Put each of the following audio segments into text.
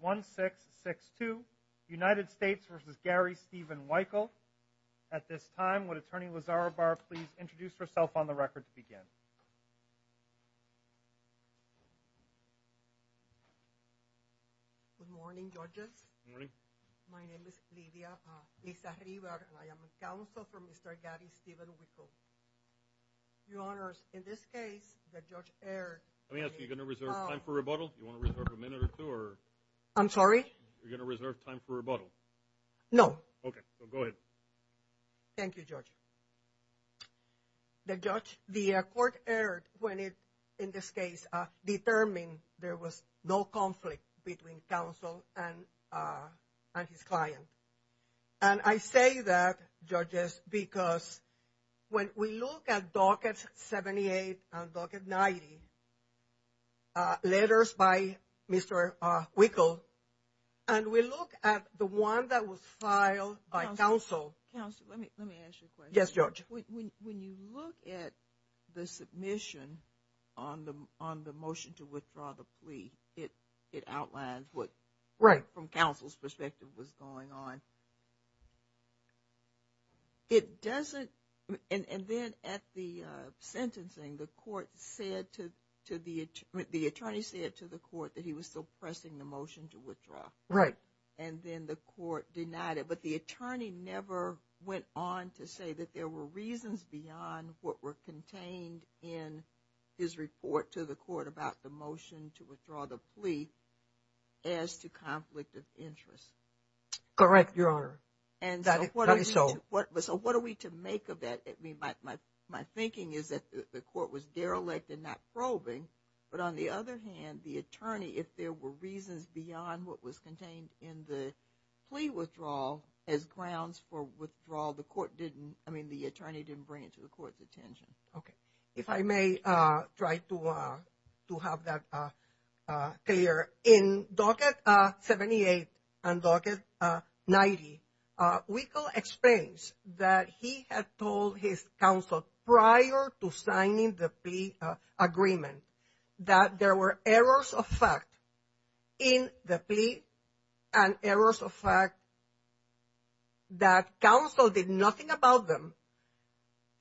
1662 United States v. Gary Stephen Wykle. At this time, would Attorney Lazaro Barr please introduce herself on the record to begin? Good morning, judges. My name is Lydia. I am a counsel for Mr. Gary Stephen Wykle. Your honors, in this case, the judge erred. Let me ask you, are you going to reserve time for rebuttal? Do you want to reserve a minute or two? I'm sorry? Are you going to reserve time for rebuttal? No. Okay, so go ahead. Thank you, Judge. The judge, the court erred when it, in this case, determined there was no conflict between counsel and his client. And I say that, judges, because when we look at docket 78 and docket 90, letters by Mr. Wykle, and we look at the one that was filed by counsel. Counsel, let me ask you a question. Yes, Judge. When you look at the submission on the motion to withdraw the plea, it outlines what, from counsel's perspective, was going on. It doesn't, and then at the sentencing, the court said to the, the attorney said to the court that he was still pressing the motion to withdraw. Right. And then the court denied it. But the attorney never went on to say that there were reasons beyond what were contained in his report to the court about the motion to withdraw the plea as to conflict of interest. Correct, Your Honor. That is so. And so what are we to make of that? I mean, my thinking is that the court was derelict in not probing. But on the other hand, the attorney, if there were reasons beyond what was contained in the plea withdrawal as grounds for withdrawal, the court didn't, I mean, the attorney didn't bring it to the court's attention. Okay. If I may try to have that clear. In docket 78 and docket 90, Wickel explains that he had told his counsel prior to signing the plea agreement that there were errors of fact in the plea and errors of fact that counsel did nothing about them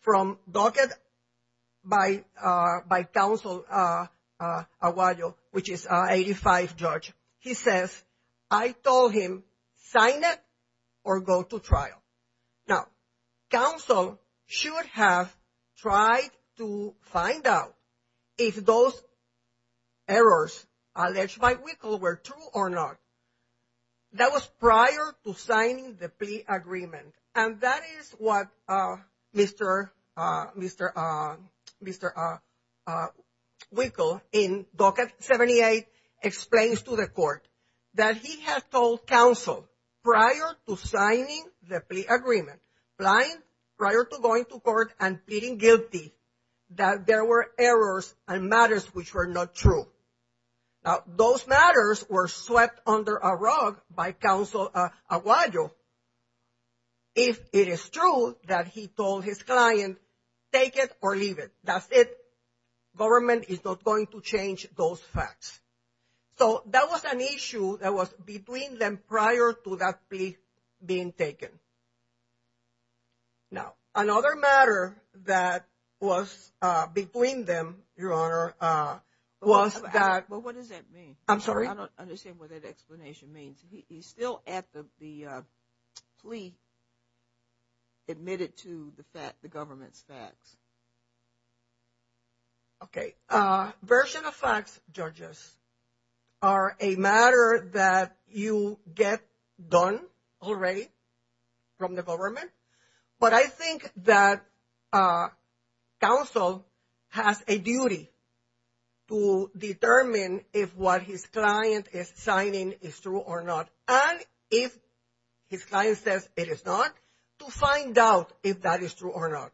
from docket by, by counsel Aguayo, which is 85 judge. He says, I told him, sign it or go to trial. Now, counsel should have tried to find out if those errors alleged by Wickel were true or not. That was prior to signing the plea agreement. And that is what Mr. Wickel in docket 78 explains to the court that he had told counsel prior to signing the plea agreement, prior to going to court and pleading guilty that there were errors and matters which were not true. Now, those matters were swept under a rug by counsel Aguayo. If it is true that he told his client, take it or leave it, that's it. Government is not going to change those facts. So that was an issue that was between them prior to that plea being taken. Now, another matter that was between them, Your Honor, was that. Well, what does that mean? I'm sorry. I don't understand what that explanation means. He's still at the plea admitted to the fact the government's facts. Okay, version of facts, judges, are a matter that you get done already from the government. But I think that counsel has a duty to determine if what his client is signing is true or not. And if his client says it is not, to find out if that is true or not.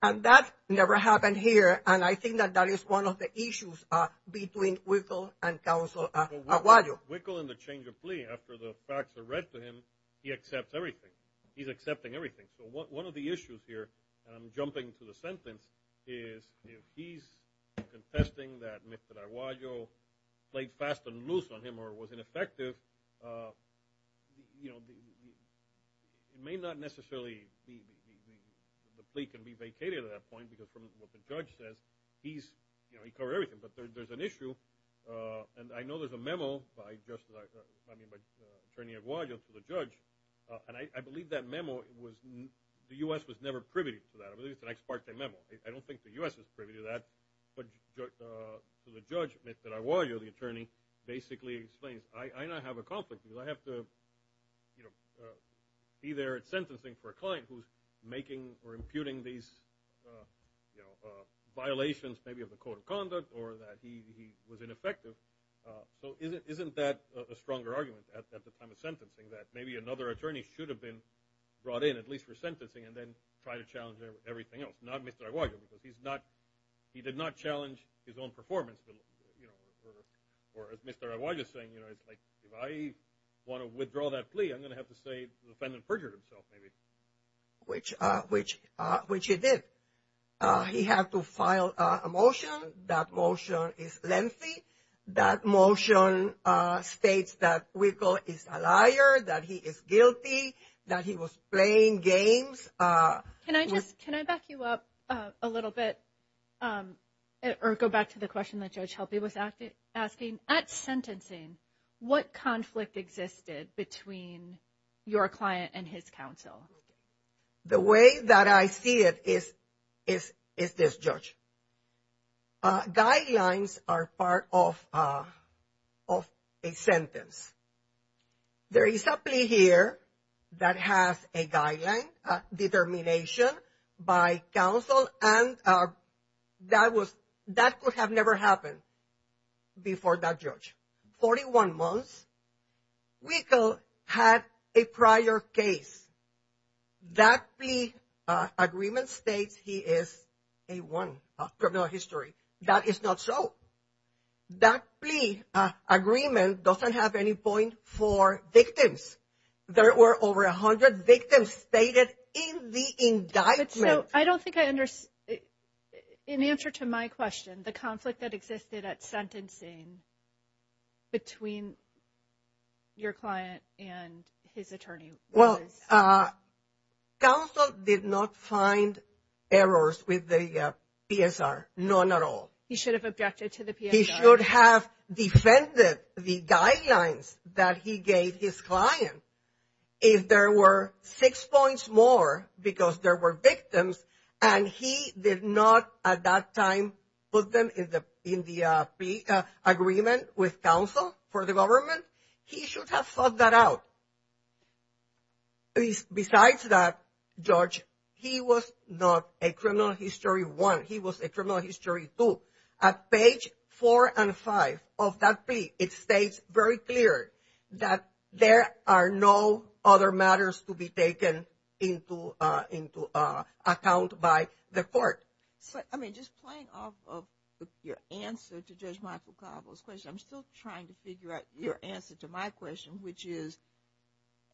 And that never happened here. And I think that that is one of the issues between Wickle and counsel Aguayo. Wickle, in the change of plea, after the facts are read to him, he accepts everything. He's accepting everything. So one of the issues here, and I'm jumping to the sentence, is if he's contesting that Mr. Aguayo played fast and loose on him or was ineffective, it may not necessarily be the plea can be vacated at that point because from what the judge says, he covered everything. But there's an issue, and I know there's a memo by Attorney Aguayo to the judge, and I believe that memo was – the U.S. was never privy to that. I believe it's an ex parte memo. I don't think the U.S. was privy to that. But to the judge, Mr. Aguayo, the attorney, basically explains, I now have a conflict. I have to be there at sentencing for a client who's making or imputing these violations maybe of the code of conduct or that he was ineffective. So isn't that a stronger argument at the time of sentencing that maybe another attorney should have been brought in, at least for sentencing, and then try to challenge everything else, not Mr. Aguayo, because he did not challenge his own performance or, as Mr. Aguayo is saying, if I want to withdraw that plea, I'm going to have to say the defendant perjured himself maybe. Which he did. He had to file a motion. That motion is lengthy. That motion states that Huicol is a liar, that he is guilty, that he was playing games. Can I back you up a little bit? Or go back to the question that Judge Helpe was asking. At sentencing, what conflict existed between your client and his counsel? The way that I see it is this, Judge. Guidelines are part of a sentence. There is a plea here that has a guideline, determination by counsel, and that could have never happened before that judge. 41 months, Huicol had a prior case. That plea agreement states he is a one of criminal history. That is not so. That plea agreement doesn't have any point for victims. There were over 100 victims stated in the indictment. So I don't think I understand. In answer to my question, the conflict that existed at sentencing between your client and his attorney was? Well, counsel did not find errors with the PSR. None at all. He should have objected to the PSR. He should have defended the guidelines that he gave his client. If there were six points more because there were victims, and he did not at that time put them in the agreement with counsel for the government, he should have thought that out. Besides that, Judge, he was not a criminal history one. He was a criminal history two. At page four and five of that plea, it states very clear that there are no other matters to be taken into account by the court. I mean, just playing off of your answer to Judge Michael Cabo's question, I'm still trying to figure out your answer to my question, which is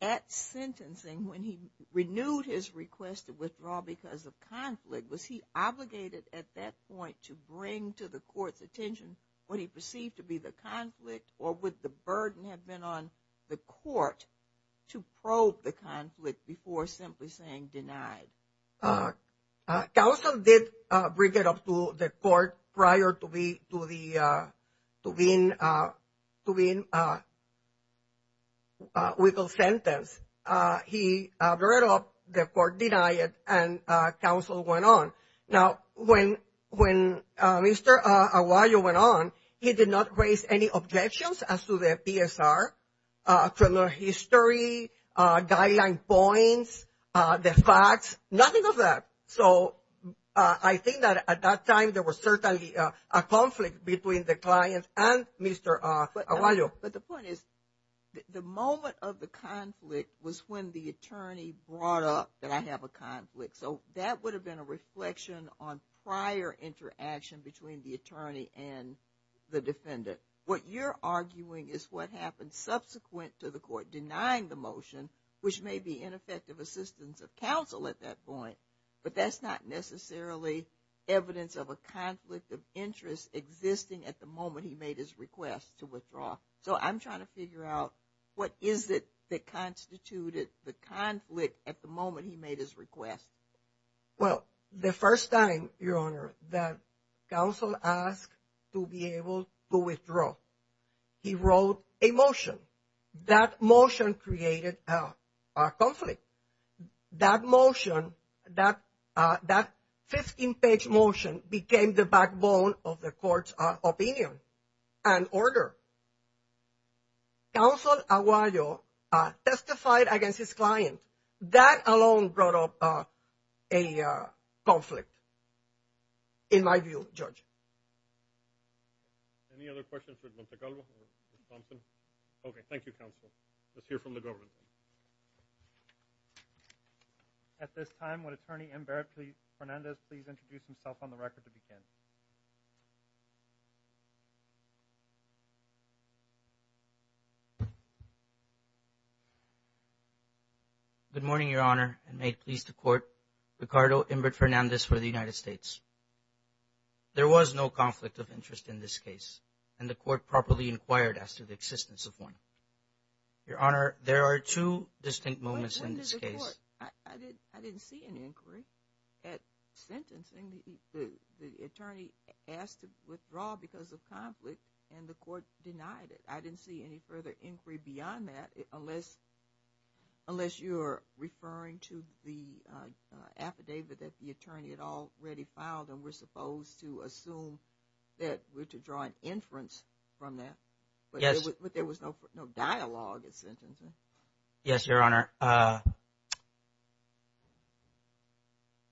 at sentencing when he renewed his request to withdraw because of conflict, was he obligated at that point to bring to the court's attention what he perceived to be the conflict, or would the burden have been on the court to probe the conflict before simply saying denied? Counsel did bring it up to the court prior to being withheld sentence. He brought it up. The court denied it, and counsel went on. Now, when Mr. Aguayo went on, he did not raise any objections as to the PSR, criminal history, guideline points, the facts, nothing of that. So I think that at that time there was certainly a conflict between the client and Mr. Aguayo. But the point is the moment of the conflict was when the attorney brought up that I have a conflict. So that would have been a reflection on prior interaction between the attorney and the defendant. What you're arguing is what happened subsequent to the court denying the motion, which may be ineffective assistance of counsel at that point, but that's not necessarily evidence of a conflict of interest existing at the moment he made his request to withdraw. So I'm trying to figure out what is it that constituted the conflict at the moment he made his request. Well, the first time, Your Honor, that counsel asked to be able to withdraw, he wrote a motion. That motion created a conflict. That motion, that 15-page motion became the backbone of the court's opinion and order. Counsel Aguayo testified against his client. That alone brought up a conflict, in my view, Judge. Any other questions for Mr. Calvo or Ms. Thompson? Okay, thank you, counsel. Let's hear from the government. At this time, would Attorney Inbert Fernandez please introduce himself on the record to begin? Good morning, Your Honor, and may it please the court, Ricardo Inbert Fernandez for the United States. There was no conflict of interest in this case, and the court properly inquired as to the existence of one. Your Honor, there are two distinct moments in this case. I didn't see any inquiry at sentencing. The attorney asked to withdraw because of conflict, and the court denied it. I didn't see any further inquiry beyond that, unless you're referring to the affidavit that the attorney had already filed, and we're supposed to assume that we're to draw an inference from that. Yes. Yes, Your Honor.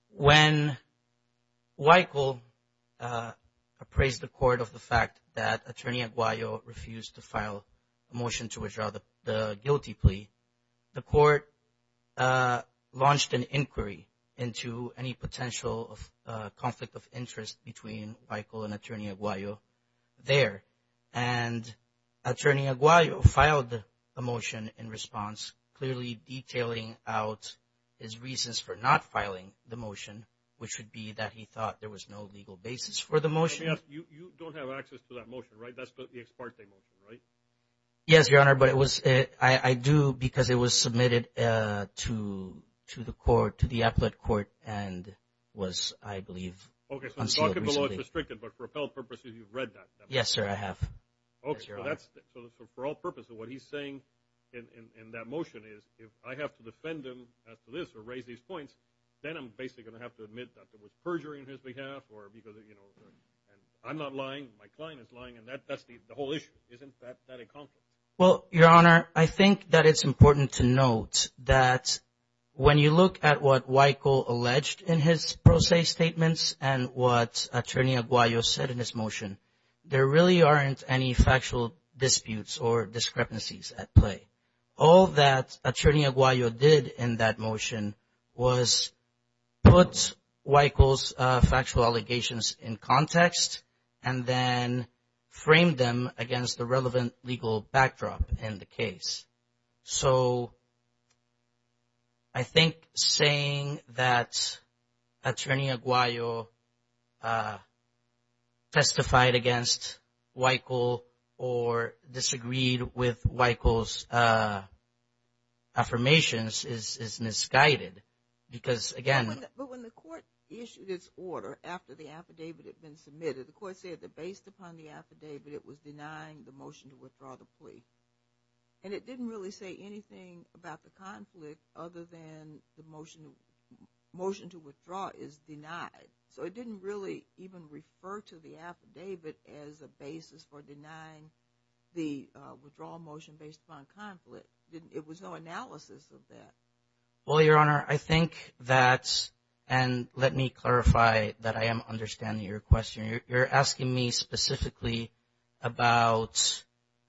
When Weichel appraised the court of the fact that Attorney Aguayo refused to file a motion to withdraw the guilty plea, the court launched an inquiry into any potential conflict of interest between Weichel and Attorney Aguayo there, and Attorney Aguayo filed a motion in response, clearly detailing out his reasons for not filing the motion, which would be that he thought there was no legal basis for the motion. You don't have access to that motion, right? That's the ex parte motion, right? Yes, Your Honor, but I do because it was submitted to the court, to the appellate court, and was, I believe, unsealed recently. Okay, so the document below is restricted, but for appellate purposes, you've read that? Yes, sir, I have, yes, Your Honor. Okay, so for all purposes, what he's saying in that motion is if I have to defend him as to this or raise these points, then I'm basically going to have to admit that there was perjury on his behalf or because, you know, I'm not lying, my client is lying, and that's the whole issue, isn't that a conflict? Well, Your Honor, I think that it's important to note that when you look at what Weichel alleged in his pro se statements and what Attorney Aguayo said in his motion, there really aren't any factual disputes or discrepancies at play. All that Attorney Aguayo did in that motion was put Weichel's factual allegations in context and then framed them against the relevant legal backdrop in the case. So I think saying that Attorney Aguayo testified against Weichel or disagreed with Weichel's affirmations is misguided because, again. But when the court issued its order after the affidavit had been submitted, the court said that based upon the affidavit, it was denying the motion to withdraw the plea. And it didn't really say anything about the conflict other than the motion to withdraw is denied. So it didn't really even refer to the affidavit as a basis for denying the withdrawal motion based upon conflict. It was no analysis of that. Well, Your Honor, I think that's – and let me clarify that I am understanding your question. You're asking me specifically about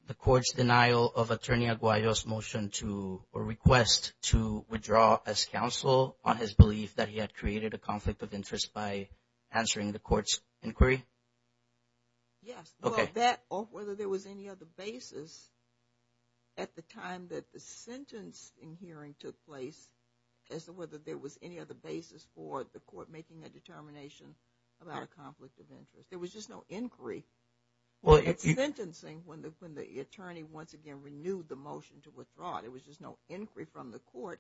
the court's denial of Attorney Aguayo's motion to or request to withdraw as counsel on his belief that he had created a conflict of interest by answering the court's inquiry? Yes. Well, that or whether there was any other basis at the time that the sentence in hearing took place as to whether there was any other basis for the court making a determination about a conflict of interest. There was just no inquiry. Well, it's sentencing when the attorney once again renewed the motion to withdraw. There was just no inquiry from the court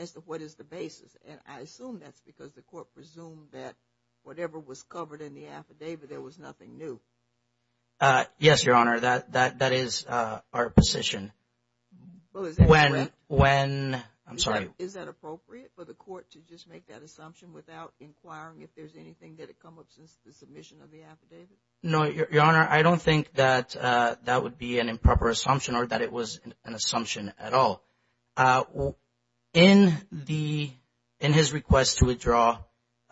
as to what is the basis. And I assume that's because the court presumed that whatever was covered in the affidavit, there was nothing new. Yes, Your Honor. That is our position. Well, is that correct? I'm sorry. Is that appropriate for the court to just make that assumption without inquiring if there's anything that had come up since the submission of the affidavit? No, Your Honor. I don't think that that would be an improper assumption or that it was an assumption at all. In his request to withdraw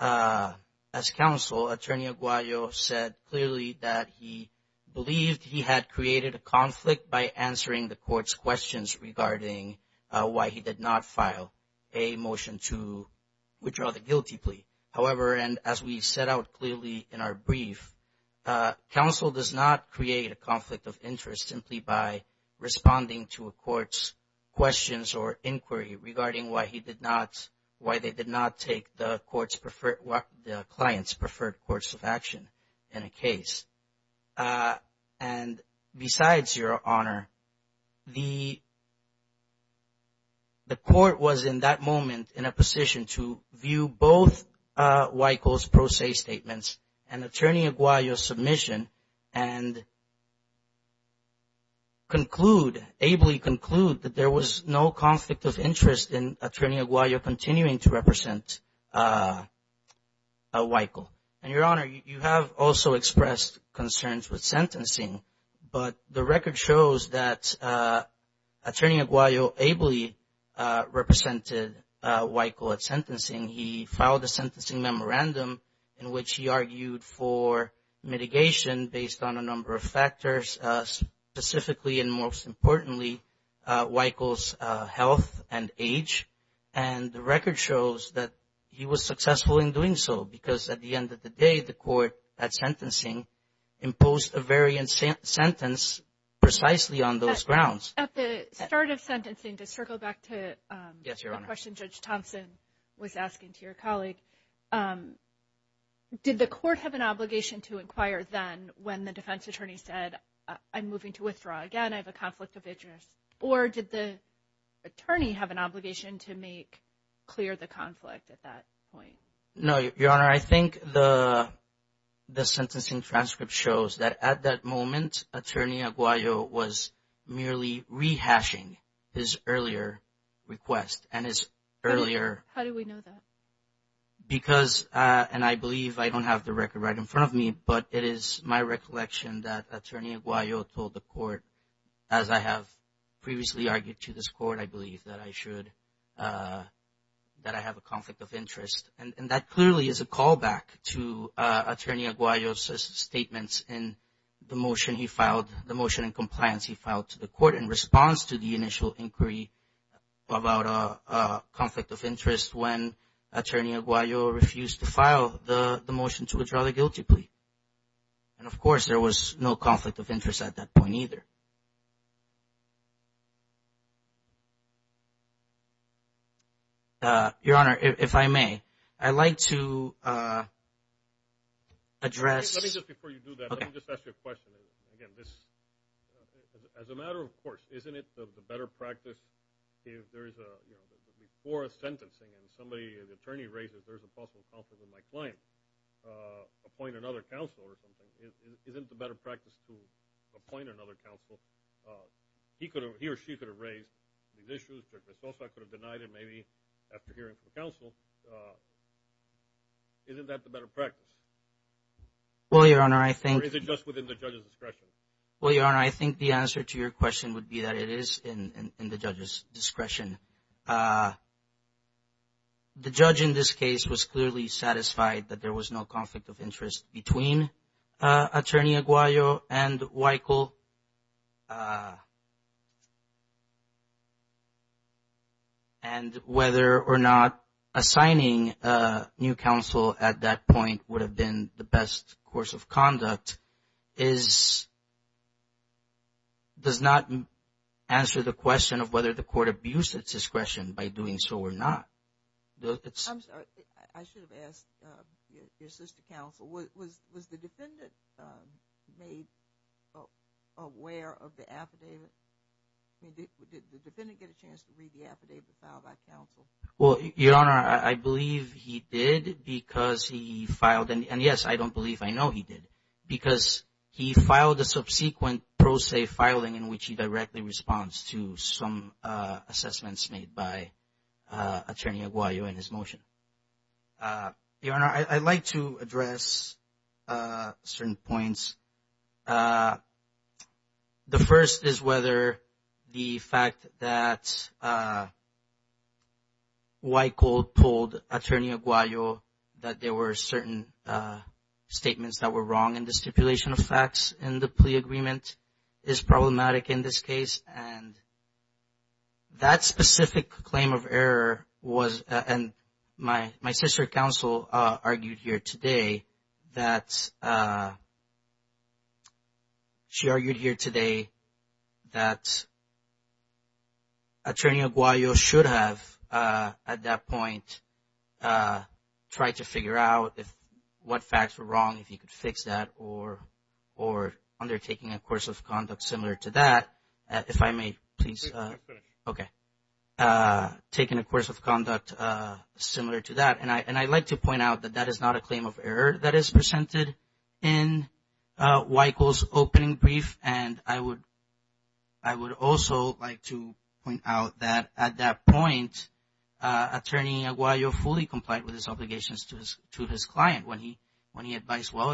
as counsel, Attorney Aguayo said clearly that he believed he had created a conflict by answering the court's questions regarding why he did not file a motion to withdraw the guilty plea. However, and as we set out clearly in our brief, counsel does not create a conflict of interest simply by responding to a court's questions or inquiry regarding why they did not take the client's preferred course of action in a case. And besides, Your Honor, the court was in that moment in a position to view both Wykle's pro se statements and Attorney Aguayo's submission and conclude, ably conclude, that there was no conflict of interest in Attorney Aguayo continuing to represent Wykle. And, Your Honor, you have also expressed concerns with sentencing, but the record shows that Attorney Aguayo ably represented Wykle at sentencing. He filed a sentencing memorandum in which he argued for mitigation based on a number of factors, specifically and most importantly, Wykle's health and age. And the record shows that he was successful in doing so because at the end of the day, the court at sentencing imposed a variant sentence precisely on those grounds. At the start of sentencing, to circle back to the question Judge Thompson was asking to your colleague, did the court have an obligation to inquire then when the defense attorney said, I'm moving to withdraw again, I have a conflict of interest? Or did the attorney have an obligation to make clear the conflict at that point? No, Your Honor. I think the sentencing transcript shows that at that moment, Attorney Aguayo was merely rehashing his earlier request and his earlier. How do we know that? Because, and I believe I don't have the record right in front of me, but it is my recollection that Attorney Aguayo told the court, as I have previously argued to this court, I believe that I should, that I have a conflict of interest. And that clearly is a callback to Attorney Aguayo's statements in the motion he filed, the motion in compliance he filed to the court in response to the initial inquiry about a conflict of interest when Attorney Aguayo refused to file the motion to withdraw the guilty plea. And, of course, there was no conflict of interest at that point either. Your Honor, if I may, I'd like to address. Let me just before you do that, let me just ask you a question. Again, this, as a matter of course, isn't it the better practice if there is a, you know, before a sentencing and somebody, the attorney raises, there's a possible conflict of my client, appoint another counsel or something. Isn't it the better practice to appoint another counsel? He could have, he or she could have raised these issues, but they also could have denied it maybe after hearing from the counsel. Isn't that the better practice? Well, Your Honor, I think. Or is it just within the judge's discretion? Well, Your Honor, I think the answer to your question would be that it is in the judge's discretion. The judge in this case was clearly satisfied that there was no conflict of interest between Attorney Aguayo and Weichel and whether or not assigning a new counsel at that point would have been the best course of conduct does not answer the question of whether the court abused its discretion by doing so or not. I'm sorry. I should have asked your sister counsel. Was the defendant made aware of the affidavit? Did the defendant get a chance to read the affidavit filed by counsel? Well, Your Honor, I believe he did because he filed. And, yes, I don't believe I know he did because he filed a subsequent pro se filing in which he directly responds to some assessments made by Attorney Aguayo in his motion. Your Honor, I'd like to address certain points. The first is whether the fact that Weichel told Attorney Aguayo that there were certain statements that were wrong in the stipulation of facts in the plea agreement is problematic in this case. And that specific claim of error was and my sister counsel argued here today that she argued here today that Attorney Aguayo should have at that point tried to figure out what facts were wrong, if he could fix that or undertaking a course of conduct similar to that. If I may, please. Okay. Taking a course of conduct similar to that. And I'd like to point out that that is not a claim of error that is presented in Weichel's opening brief. And I would also like to point out that at that point, Attorney Aguayo fully complied with his obligations to his client when he advised, well,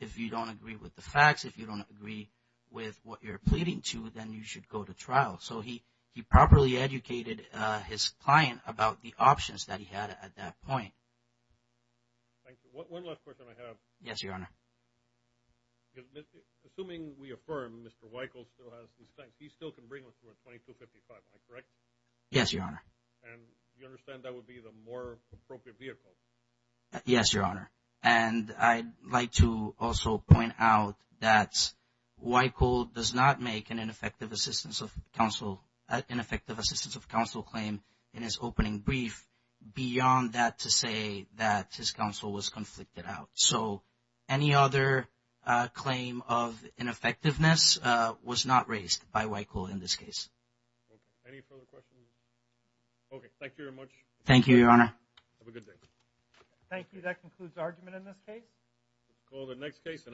if you don't agree with the facts, if you don't agree with what you're pleading to, then you should go to trial. So he properly educated his client about the options that he had at that point. Thank you. One last question I have. Yes, Your Honor. Assuming we affirm Mr. Weichel still has his things, he still can bring us to a 2255, am I correct? Yes, Your Honor. And you understand that would be the more appropriate vehicle? Yes, Your Honor. And I'd like to also point out that Weichel does not make an ineffective assistance of counsel claim in his opening brief beyond that to say that his counsel was conflicted out. So any other claim of ineffectiveness was not raised by Weichel in this case. Okay. Any further questions? Okay. Thank you very much. Thank you, Your Honor. Have a good day. Thank you. That concludes the argument in this case. Call the next case.